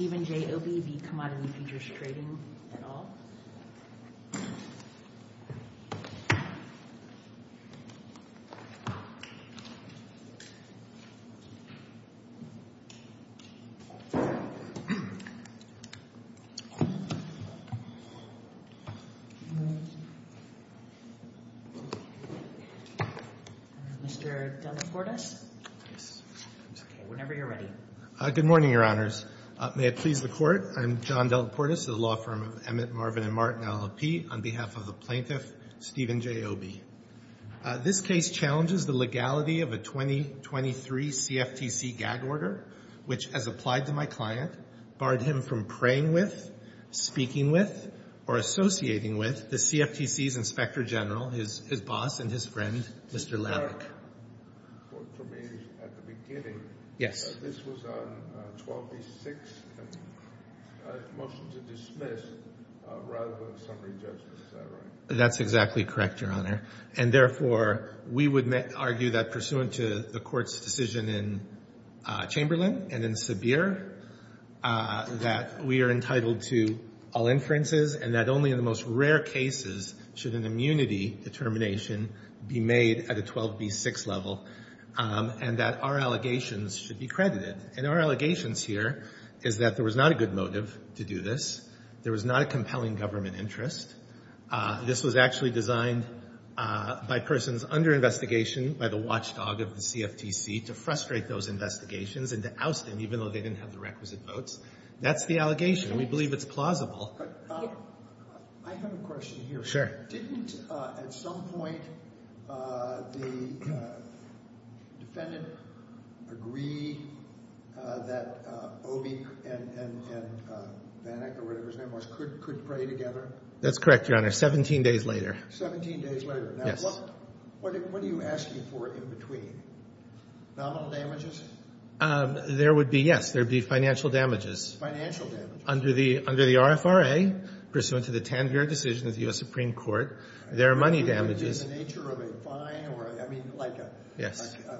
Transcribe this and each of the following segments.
Stephen J. Obie v. Commodity Futures Trading et al. Mr. Delacortes, whenever you're ready. Good morning, Your Honors. May it please the Court, I'm John Delacortes of the law firm of Emmett, Marvin & Martin LLP, on behalf of the plaintiff Stephen J. Obie. This case challenges the legality of a 2023 CFTC gag order, which, as applied to my client, barred him from praying with, speaking with, or associating with the CFTC's inspector general, his boss and his friend, Mr. Lalic. For me, at the beginning, this was on 12b-6, a motion to dismiss, rather than a summary judgment. Is that right? That's exactly correct, Your Honor. And therefore, we would argue that, pursuant to the Court's decision in Chamberlain and in Sabir, that we are entitled to all inferences, and that only in the most rare cases should an immunity determination be made at a 12b-6 level, and that our allegations should be credited. And our allegations here is that there was not a good motive to do this. There was not a compelling government interest. This was actually designed by persons under investigation, by the watchdog of the CFTC, to frustrate those investigations and to oust them, even though they didn't have the requisite votes. That's the allegation. We believe it's plausible. I have a question here. Sure. Didn't, at some point, the defendant agree that Obie and Vanek, or whatever his name was, could pray together? That's correct, Your Honor, 17 days later. 17 days later. Yes. Now, what are you asking for in between? Nominal damages? There would be, yes. There would be financial damages. Financial damages. Under the RFRA, pursuant to the Tanveer decision of the U.S. Supreme Court, there are money damages. Are you going to do the nature of a fine, or, I mean, like a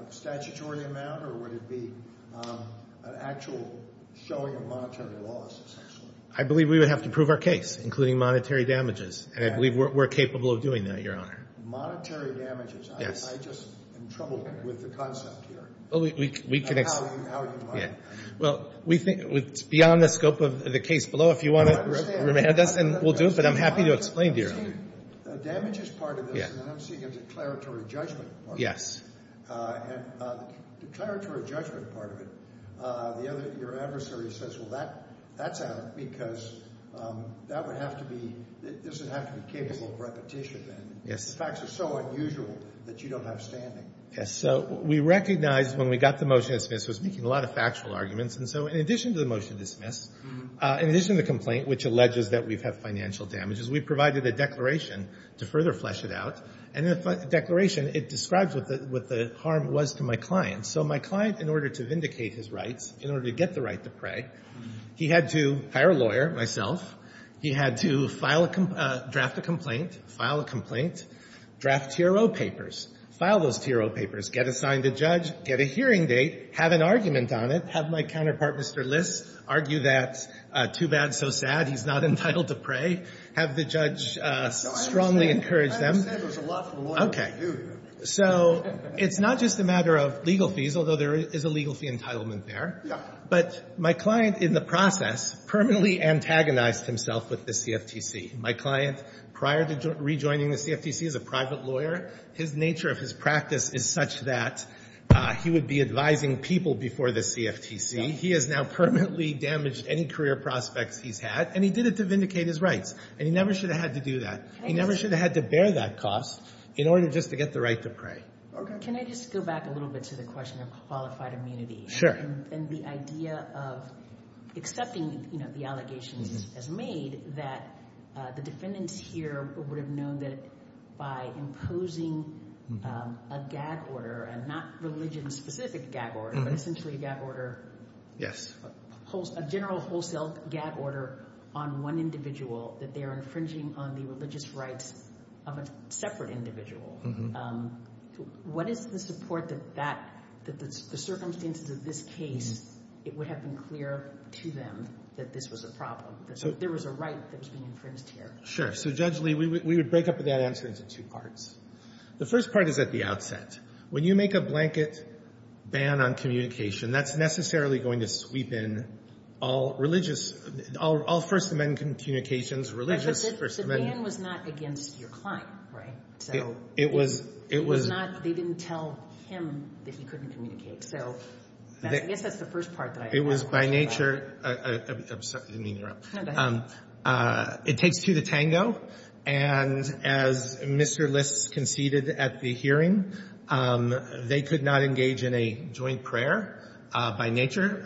statutory amount, or would it be an actual showing of monetary loss, essentially? I believe we would have to prove our case, including monetary damages, and I believe we're capable of doing that, Your Honor. Monetary damages? Yes. I just am troubled with the concept here. Well, we can explain. How do you find that? Well, we think it's beyond the scope of the case below. If you want to remand us, we'll do it, but I'm happy to explain, Your Honor. The damages part of this, and then I'm seeing a declaratory judgment part of it. Yes. And the declaratory judgment part of it, your adversary says, well, that's out because that would have to be, it doesn't have to be capable of repetition. Yes. The facts are so unusual that you don't have standing. Yes. So we recognized when we got the motion dismissed, it was making a lot of factual arguments, and so in addition to the motion dismissed, in addition to the complaint, which alleges that we have financial damages, we provided a declaration to further flesh it out, and in the declaration, it describes what the harm was to my client. So my client, in order to vindicate his rights, in order to get the right to pray, he had to hire a lawyer, myself. He had to file a, draft a complaint, file a complaint, draft TRO papers, file those TRO papers, get assigned a judge, get a hearing date, have an argument on it, have my counterpart, Mr. Liss, argue that too bad, so sad, he's not entitled to pray, have the judge strongly encourage them. I understand there's a lot for the lawyer to do here. So it's not just a matter of legal fees, although there is a legal fee entitlement there. Yeah. But my client, in the process, permanently antagonized himself with the CFTC. My client, prior to rejoining the CFTC as a private lawyer, his nature of his practice is such that he would be advising people before the CFTC. He has now permanently damaged any career prospects he's had, and he did it to vindicate his rights, and he never should have had to do that. He never should have had to bear that cost in order just to get the right to pray. Can I just go back a little bit to the question of qualified immunity? Sure. And the idea of accepting, you know, the allegations as made, that the defendants here would have known that by imposing a gag order, a not religion-specific gag order, but essentially a gag order, a general wholesale gag order on one individual, that they are infringing on the religious rights of a separate individual. Mm-hmm. What is the support that that the circumstances of this case, it would have been clear to them that this was a problem, that there was a right that was being infringed here? Sure. So, Judge Lee, we would break up that answer into two parts. The first part is at the outset. When you make a blanket ban on communication, that's necessarily going to sweep in all religious, all First Amendment communications, religious First Amendment. But the ban was not against your client, right? It was not. It was not. They didn't tell him that he couldn't communicate. So I guess that's the first part. It was by nature. I'm sorry. I didn't mean to interrupt. It takes two to tango. And as Mr. List conceded at the hearing, they could not engage in a joint prayer by nature.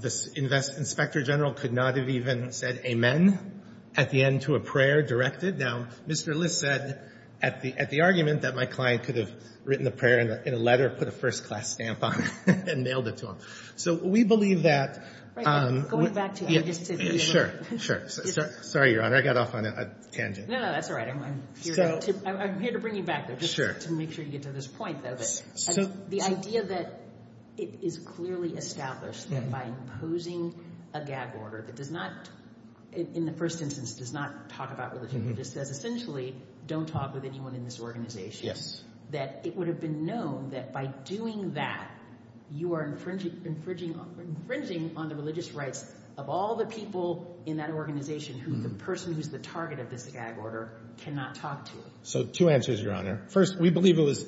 The inspector general could not have even said amen at the end to a prayer directed. Now, Mr. List said at the argument that my client could have written the prayer in a letter, put a first-class stamp on it, and mailed it to him. So we believe that – Going back to – Sure. Sure. Sorry, Your Honor. I got off on a tangent. No, no. That's all right. I'm here to bring you back there just to make sure you get to this point, though. The idea that it is clearly established that by imposing a gag order that does not – in the first instance, does not talk about religion. It just says essentially don't talk with anyone in this organization. Yes. That it would have been known that by doing that, you are infringing on the religious rights of all the people in that organization who the person who is the target of this gag order cannot talk to. So two answers, Your Honor. First, we believe it was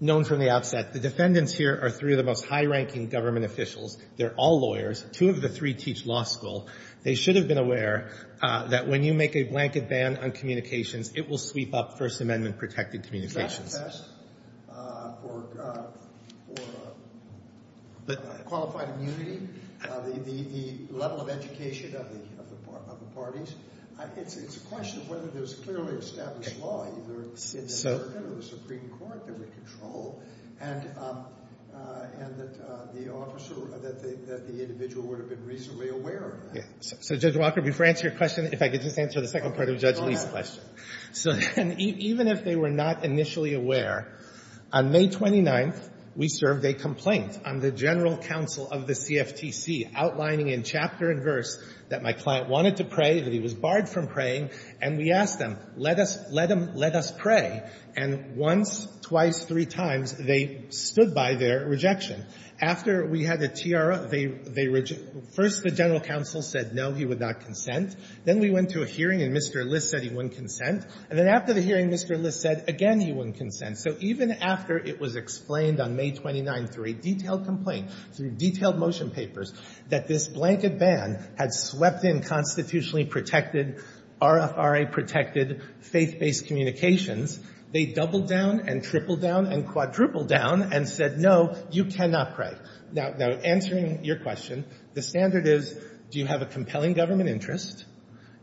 known from the outset. The defendants here are three of the most high-ranking government officials. They're all lawyers. Two of the three teach law school. They should have been aware that when you make a blanket ban on communications, it will sweep up First Amendment-protected communications. So Judge Walker, before I answer your question, if I could just answer the second part of Judge Lee's question. So even if they were not initially aware, on May 29th, we served a complaint on the general counsel of the CFTC outlining in chapter and verse that my client wanted to pray, that he was barred from praying. And we asked them, let us – let us pray. And once, twice, three times, they stood by their rejection. After we had the tiara, they – first the general counsel said, no, he would not consent. Then we went to a hearing, and Mr. List said he wouldn't consent. And then after the hearing, Mr. List said, again, he wouldn't consent. So even after it was explained on May 29th through a detailed complaint, through detailed motion papers, that this blanket ban had swept in constitutionally protected, RFRA-protected, faith-based communications, they doubled down and tripled down and quadrupled down and said, no, you cannot pray. Now, answering your question, the standard is, do you have a compelling government interest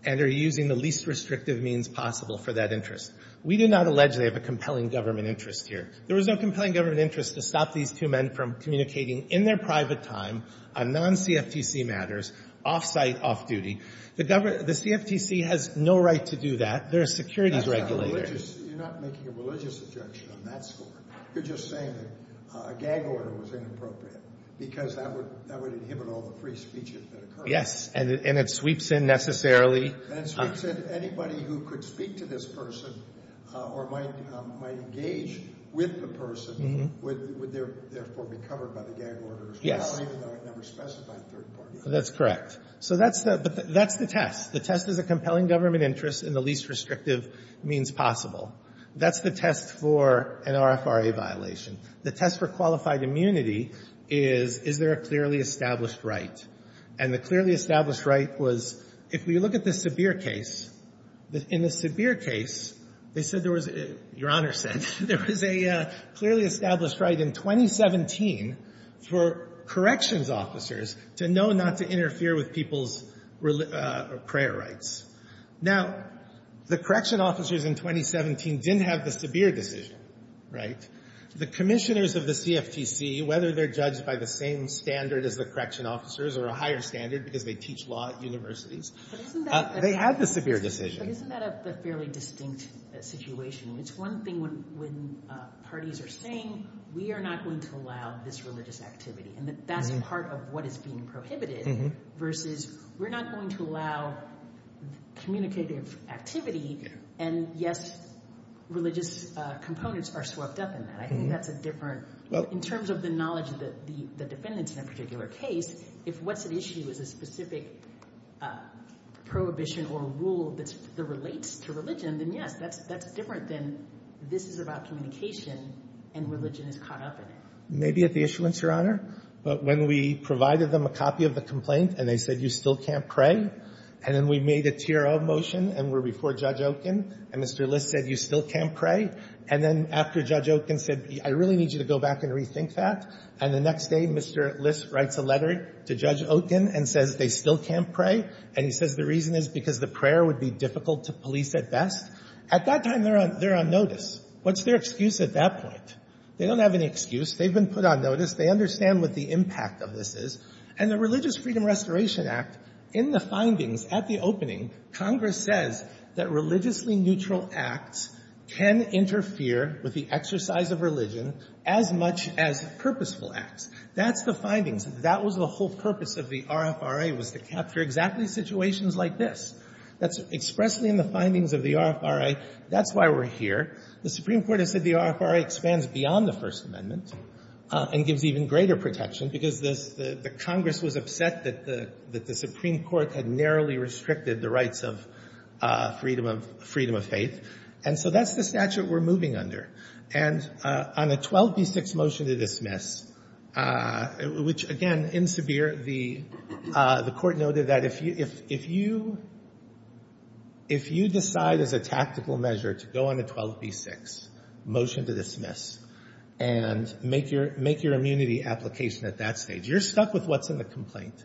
and are you using the least restrictive means possible for that interest? We do not allegedly have a compelling government interest here. There was no compelling government interest to stop these two men from communicating in their private time on non-CFTC matters, off-site, off-duty. The CFTC has no right to do that. They're a securities regulator. You're not making a religious objection on that score. You're just saying that a gag order was inappropriate because that would inhibit all the free speech that occurred. Yes. And it sweeps in necessarily. And it sweeps in anybody who could speak to this person or might engage with the person would therefore be covered by the gag order. Yes. Even though it never specified third party. That's correct. So that's the test. The test is a compelling government interest in the least restrictive means possible. That's the test for an RFRA violation. The test for qualified immunity is, is there a clearly established right? And the clearly established right was, if we look at the Sabir case, in the Sabir case, they said there was, Your Honor said, there was a clearly established right in 2017 for corrections officers to know not to interfere with people's prayer rights. Now, the correction officers in 2017 didn't have the Sabir decision, right? The commissioners of the CFTC, whether they're judged by the same standard as the correction officers or a higher standard because they teach law at universities, they had the Sabir decision. But isn't that a fairly distinct situation? It's one thing when parties are saying we are not going to allow this religious activity and that that's part of what is being prohibited versus we're not going to allow communicative activity and yes, religious components are swept up in that. I think that's a different, in terms of the knowledge of the defendants in a particular case, if what's at issue is a specific prohibition or rule that relates to religion, then yes, that's different than this is about communication and religion is caught up in it. Maybe at the issuance, Your Honor. But when we provided them a copy of the complaint and they said you still can't pray and then we made a tear-up motion and we're before Judge Okun and Mr. List said you still can't pray and then after Judge Okun said I really need you to go back and rethink that and the next day Mr. List writes a letter to Judge Okun and says they still can't pray and he says the reason is because the prayer would be difficult to police at best. At that time they're on notice. What's their excuse at that point? They don't have any excuse. They've been put on notice. They understand what the impact of this is. And the Religious Freedom Restoration Act, in the findings at the opening, Congress says that religiously neutral acts can interfere with the exercise of religion as much as purposeful acts. That's the findings. That was the whole purpose of the RFRA was to capture exactly situations like this. That's expressly in the findings of the RFRA. That's why we're here. The Supreme Court has said the RFRA expands beyond the First Amendment and gives even greater protection because the Congress was upset that the Supreme Court had narrowly restricted the rights of freedom of faith. And so that's the statute we're moving under. And on a 12b6 motion to dismiss, which, again, in Sabir, the court noted that if you decide as a tactical measure to go on a 12b6 motion to dismiss and make your immunity application at that stage, you're stuck with what's in the complaint.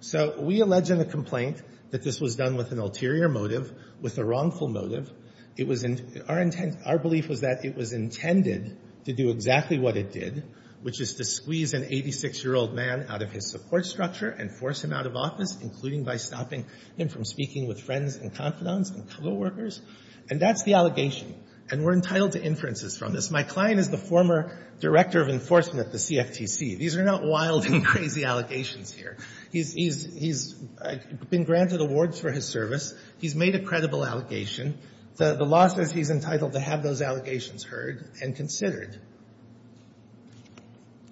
So we allege in the complaint that this was done with an ulterior motive, with a wrongful motive. Our belief was that it was intended to do exactly what it did, which is to squeeze an 86-year-old man out of his support structure and force him out of office, including by stopping him from speaking with friends and confidants and co-workers. And that's the allegation. And we're entitled to inferences from this. My client is the former director of enforcement at the CFTC. These are not wild and crazy allegations here. He's been granted awards for his service. He's made a credible allegation. The law says he's entitled to have those allegations heard and considered.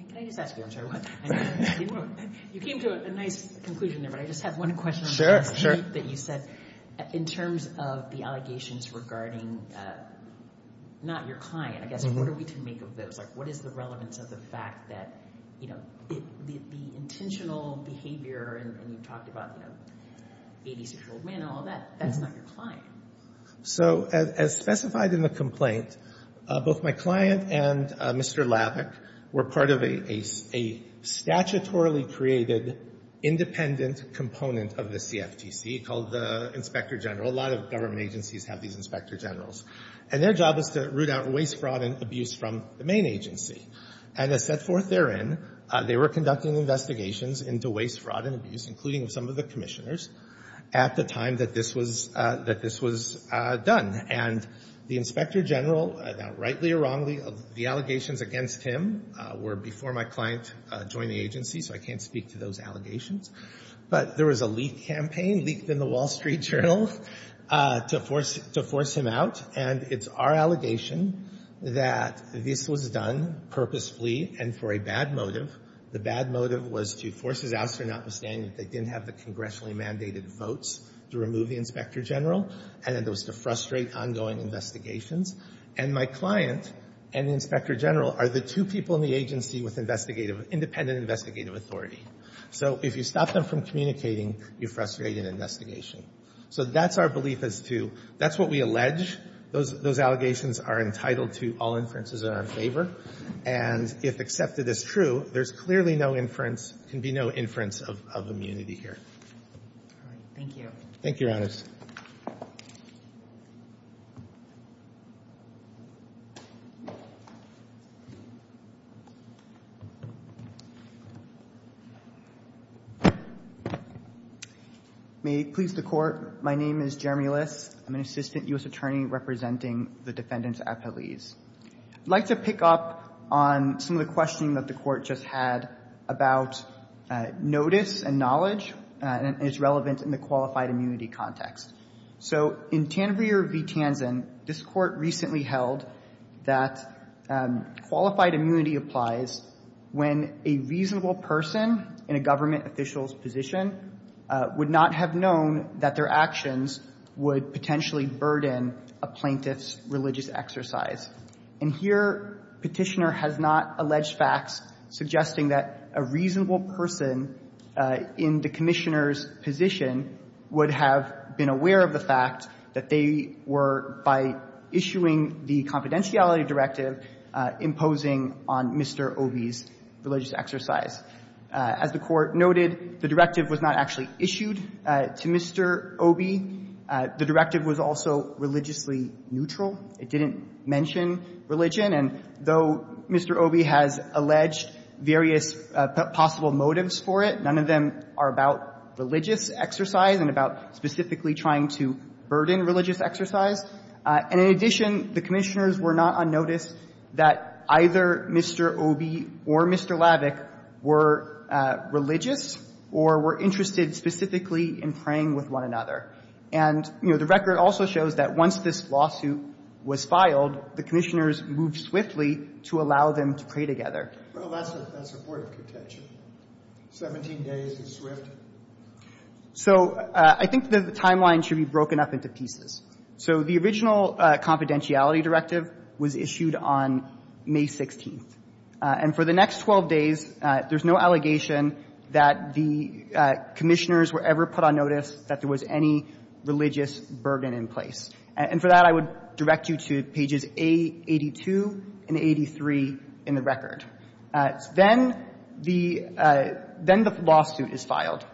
Can I just ask you? I'm sorry, what? You came to a nice conclusion there, but I just have one question. Sure, sure. That you said in terms of the allegations regarding not your client, I guess. What are we to make of those? Like, what is the relevance of the fact that, you know, the intentional behavior, and you talked about, you know, 86-year-old men and all that. That's not your client. So as specified in the complaint, both my client and Mr. Lavik were part of a statutorily created independent component of the CFTC called the Inspector General. A lot of government agencies have these Inspector Generals. And their job is to root out waste, fraud, and abuse from the main agency. And as set forth therein, they were conducting investigations into waste, fraud, and abuse, including some of the commissioners, at the time that this was done. And the Inspector General, rightly or wrongly, the allegations against him were before my client joined the agency, so I can't speak to those allegations. But there was a leaked campaign, leaked in the Wall Street Journal, to force him out. And it's our allegation that this was done purposefully and for a bad motive. The bad motive was to force his out, so notwithstanding that they didn't have the congressionally mandated votes to remove the Inspector General, and it was to frustrate ongoing investigations. And my client and the Inspector General are the two people in the agency with independent investigative authority. So if you stop them from communicating, you frustrate an investigation. So that's our belief as to, that's what we allege. Those allegations are entitled to all inferences that are in favor. And if accepted as true, there's clearly no inference, can be no inference of immunity here. All right. Thank you. Thank you, Your Honors. May it please the Court. My name is Jeremy List. I'm an assistant U.S. attorney representing the defendants at Appelese. I'd like to pick up on some of the questioning that the Court just had about notice and knowledge and its relevance in the qualified immunity context. So in Tanvir v. Tanzen, this Court recently held that qualified immunity applies when a reasonable person in a government official's position would not have known that their actions would potentially burden a plaintiff's religious exercise. And here, Petitioner has not alleged facts suggesting that a reasonable person in the Commissioner's position would have been aware of the fact that they were by issuing the confidentiality directive imposing on Mr. Obey's religious exercise. As the Court noted, the directive was not actually issued to Mr. Obey. The directive was also religiously neutral. It didn't mention religion. And though Mr. Obey has alleged various possible motives for it, none of them are about religious exercise and about specifically trying to burden religious exercise. And in addition, the Commissioners were not unnoticed that either Mr. Obey or Mr. Lavik were religious or were interested specifically in praying with one another. And, you know, the record also shows that once this lawsuit was filed, the Commissioners moved swiftly to allow them to pray together. Well, that's a port of contention. Seventeen days is swift. So I think the timeline should be broken up into pieces. So the original confidentiality directive was issued on May 16th. And for the next 12 days, there's no allegation that the Commissioners were ever put on notice that there was any religious burden in place. And for that, I would direct you to pages A82 and 83 in the record. Then the lawsuit is filed.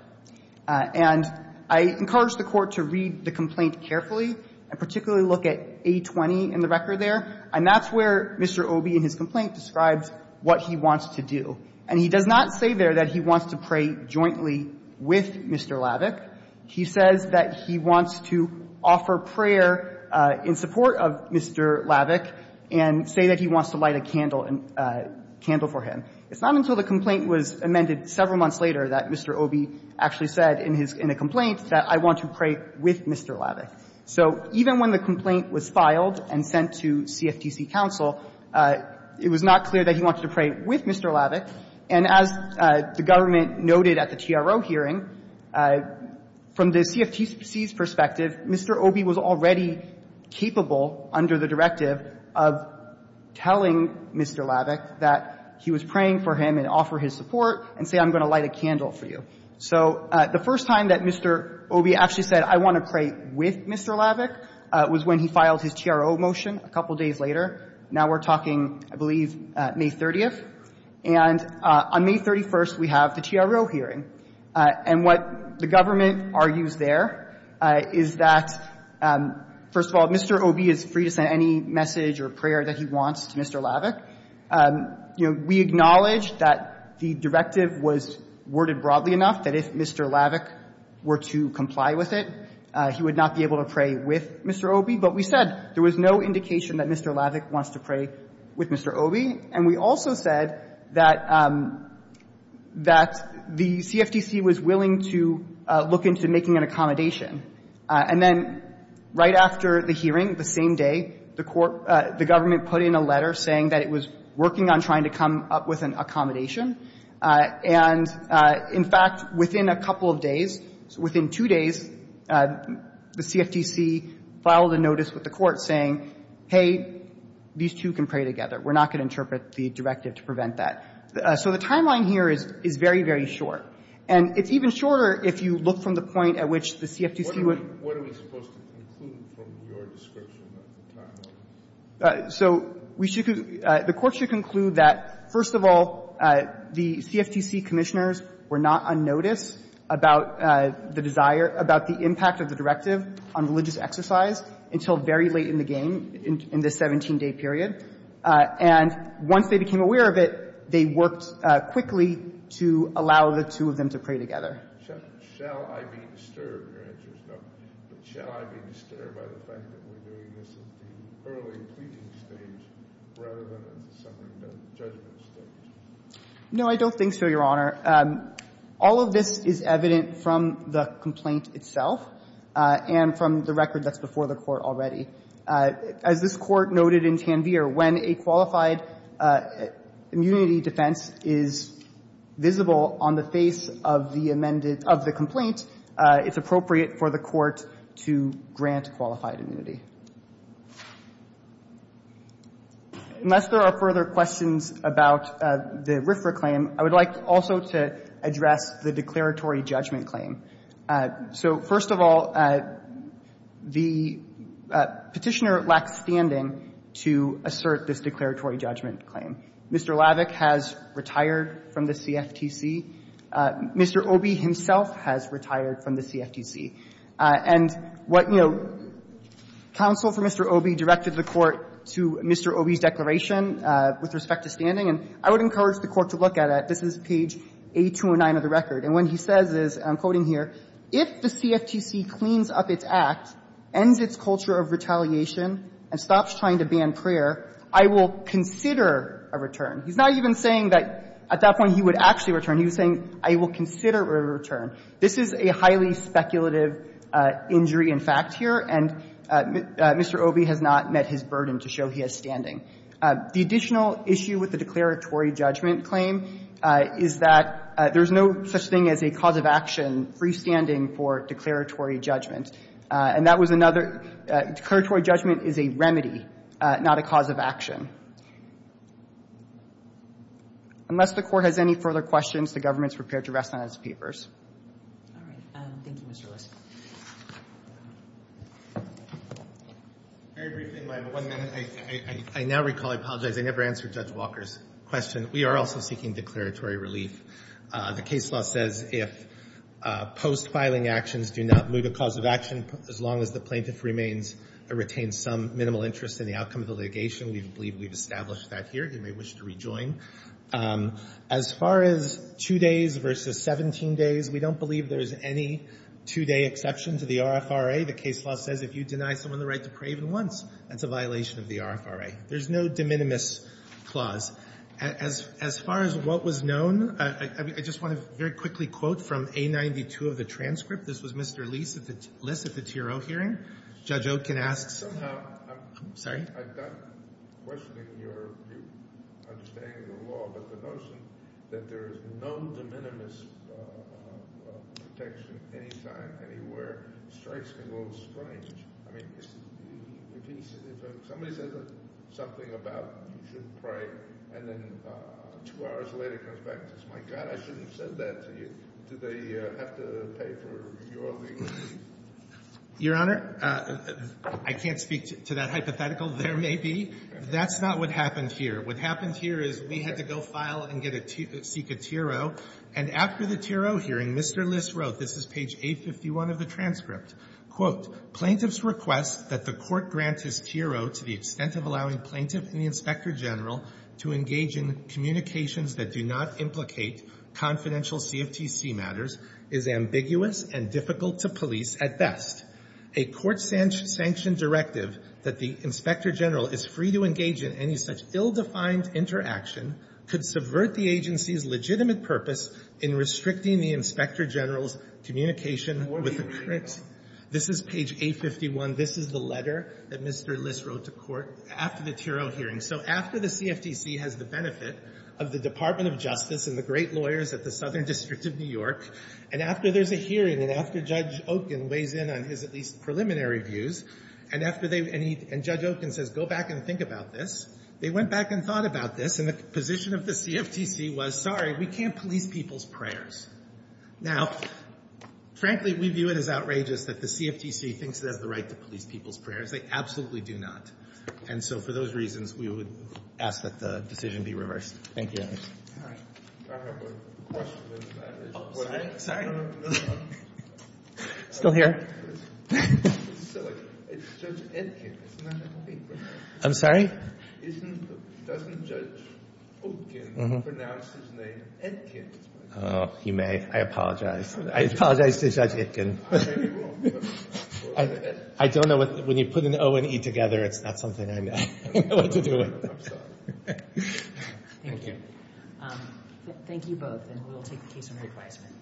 And I encourage the Court to read the complaint carefully and particularly look at A20 in the record there. And that's where Mr. Obey in his complaint describes what he wants to do. And he does not say there that he wants to pray jointly with Mr. Lavik. He says that he wants to offer prayer in support of Mr. Lavik and say that he wants to light a candle and candle for him. It's not until the complaint was amended several months later that Mr. Obey actually said in his complaint that I want to pray with Mr. Lavik. So even when the complaint was filed and sent to CFTC counsel, it was not clear that he wanted to pray with Mr. Lavik. And as the government noted at the TRO hearing, from the CFTC's perspective, Mr. Obey was already capable under the directive of telling Mr. Lavik that he was praying for him and offer his support and say I'm going to light a candle for you. So the first time that Mr. Obey actually said I want to pray with Mr. Lavik was when he filed his TRO motion a couple days later. Now we're talking, I believe, May 30th. And on May 31st, we have the TRO hearing. And what the government argues there is that, first of all, Mr. Obey is free to send any message or prayer that he wants to Mr. Lavik. We acknowledge that the directive was worded broadly enough that if Mr. Lavik were to comply with it, he would not be able to pray with Mr. Obey. But we said there was no indication that Mr. Lavik wants to pray with Mr. Obey. And we also said that the CFTC was willing to look into making an accommodation. And then right after the hearing, the same day, the court the government put in a letter saying that it was working on trying to come up with an accommodation. And in fact, within a couple of days, within two days, the CFTC filed a notice with the court saying, hey, these two can pray together. We're not going to interpret the directive to prevent that. So the timeline here is very, very short. And it's even shorter if you look from the point at which the CFTC would be. Kennedy, what are we supposed to conclude from your description of the timeline? So we should be the court should conclude that, first of all, the CFTC commissioners were not on notice about the desire, about the impact of the directive on religious exercise until very late in the game, in the 17-day period. And once they became aware of it, they worked quickly to allow the two of them to pray together. Shall I be disturbed, your answer is no. But shall I be disturbed by the fact that we're doing this at the early pleading stage rather than at the summary judgment stage? No, I don't think so, Your Honor. All of this is evident from the complaint itself and from the record that's before the court already. As this Court noted in Tanvir, when a qualified immunity defense is visible on the face of the amended of the complaint, it's appropriate for the court to grant qualified immunity. Unless there are further questions about the RFRA claim, I would like also to address the declaratory judgment claim. So, first of all, the Petitioner lacks standing to assert this declaratory judgment claim. Mr. Lavik has retired from the CFTC. Mr. Obey himself has retired from the CFTC. And what, you know, counsel for Mr. Obey directed the Court to Mr. Obey's declaration with respect to standing. And I would encourage the Court to look at it. This is page 80209 of the record. And what he says is, I'm quoting here, if the CFTC cleans up its act, ends its culture of retaliation, and stops trying to ban prayer, I will consider a return. He's not even saying that at that point he would actually return. He was saying, I will consider a return. This is a highly speculative injury in fact here. And Mr. Obey has not met his burden to show he has standing. The additional issue with the declaratory judgment claim is that there's no such thing as a cause of action freestanding for declaratory judgment. And that was another – declaratory judgment is a remedy, not a cause of action. Unless the Court has any further questions, the Government is prepared to rest on its papers. All right. Thank you, Mr. Lewis. Very briefly, if I have one minute. I now recall, I apologize, I never answered Judge Walker's question. We are also seeking declaratory relief. The case law says if post-filing actions do not move a cause of action as long as the plaintiff remains or retains some minimal interest in the outcome of the litigation, we believe we've established that here. You may wish to rejoin. As far as two days versus 17 days, we don't believe there's any two-day exception to the RFRA. The case law says if you deny someone the right to pray even once, that's a violation of the RFRA. There's no de minimis clause. As far as what was known, I just want to very quickly quote from A92 of the transcript. This was Mr. Liss at the TRO hearing. Judge Okin asks – Somehow – I'm sorry. I've done questioning your understanding of the law, but the notion that there is no de minimis protection anytime, anywhere strikes me a little strange. I mean, if somebody says something about you should pray and then two hours later comes back and says, my God, I shouldn't have said that to you, do they have to pay for your legal fees? Your Honor, I can't speak to that hypothetical. There may be. That's not what happened here. What happened here is we had to go file and get a – seek a TRO. And after the TRO hearing, Mr. Liss wrote – this is page 851 of the transcript – Quote, Plaintiff's request that the Court grant his TRO to the extent of allowing Plaintiff and the Inspector General to engage in communications that do not implicate confidential CFTC matters is ambiguous and difficult to police at best. A court-sanctioned directive that the Inspector General is free to engage in any such ill-defined interaction could subvert the agency's legitimate purpose in restricting the Inspector General's communication with the courts. This is page 851. This is the letter that Mr. Liss wrote to court after the TRO hearing. So after the CFTC has the benefit of the Department of Justice and the great lawyers at the Southern District of New York, and after there's a hearing and after Judge Okun weighs in on his at least preliminary views, and after they – and he – and Judge Okun says, go back and think about this, they went back and thought about this, and the position of the CFTC was, sorry, we can't police people's prayers. Now, frankly, we view it as outrageous that the CFTC thinks it has the right to police people's prayers. They absolutely do not. And so for those reasons, we would ask that the decision be reversed. Thank you. I have a question. Sorry. Still here. It's Judge Etkin. I'm sorry? Doesn't Judge Okun pronounce his name Etkin? You may. I apologize. I apologize to Judge Etkin. I don't know what – when you put an O and E together, it's not something I know what to do with. I'm sorry. Thank you. Thank you both, and we'll take the case under advisement.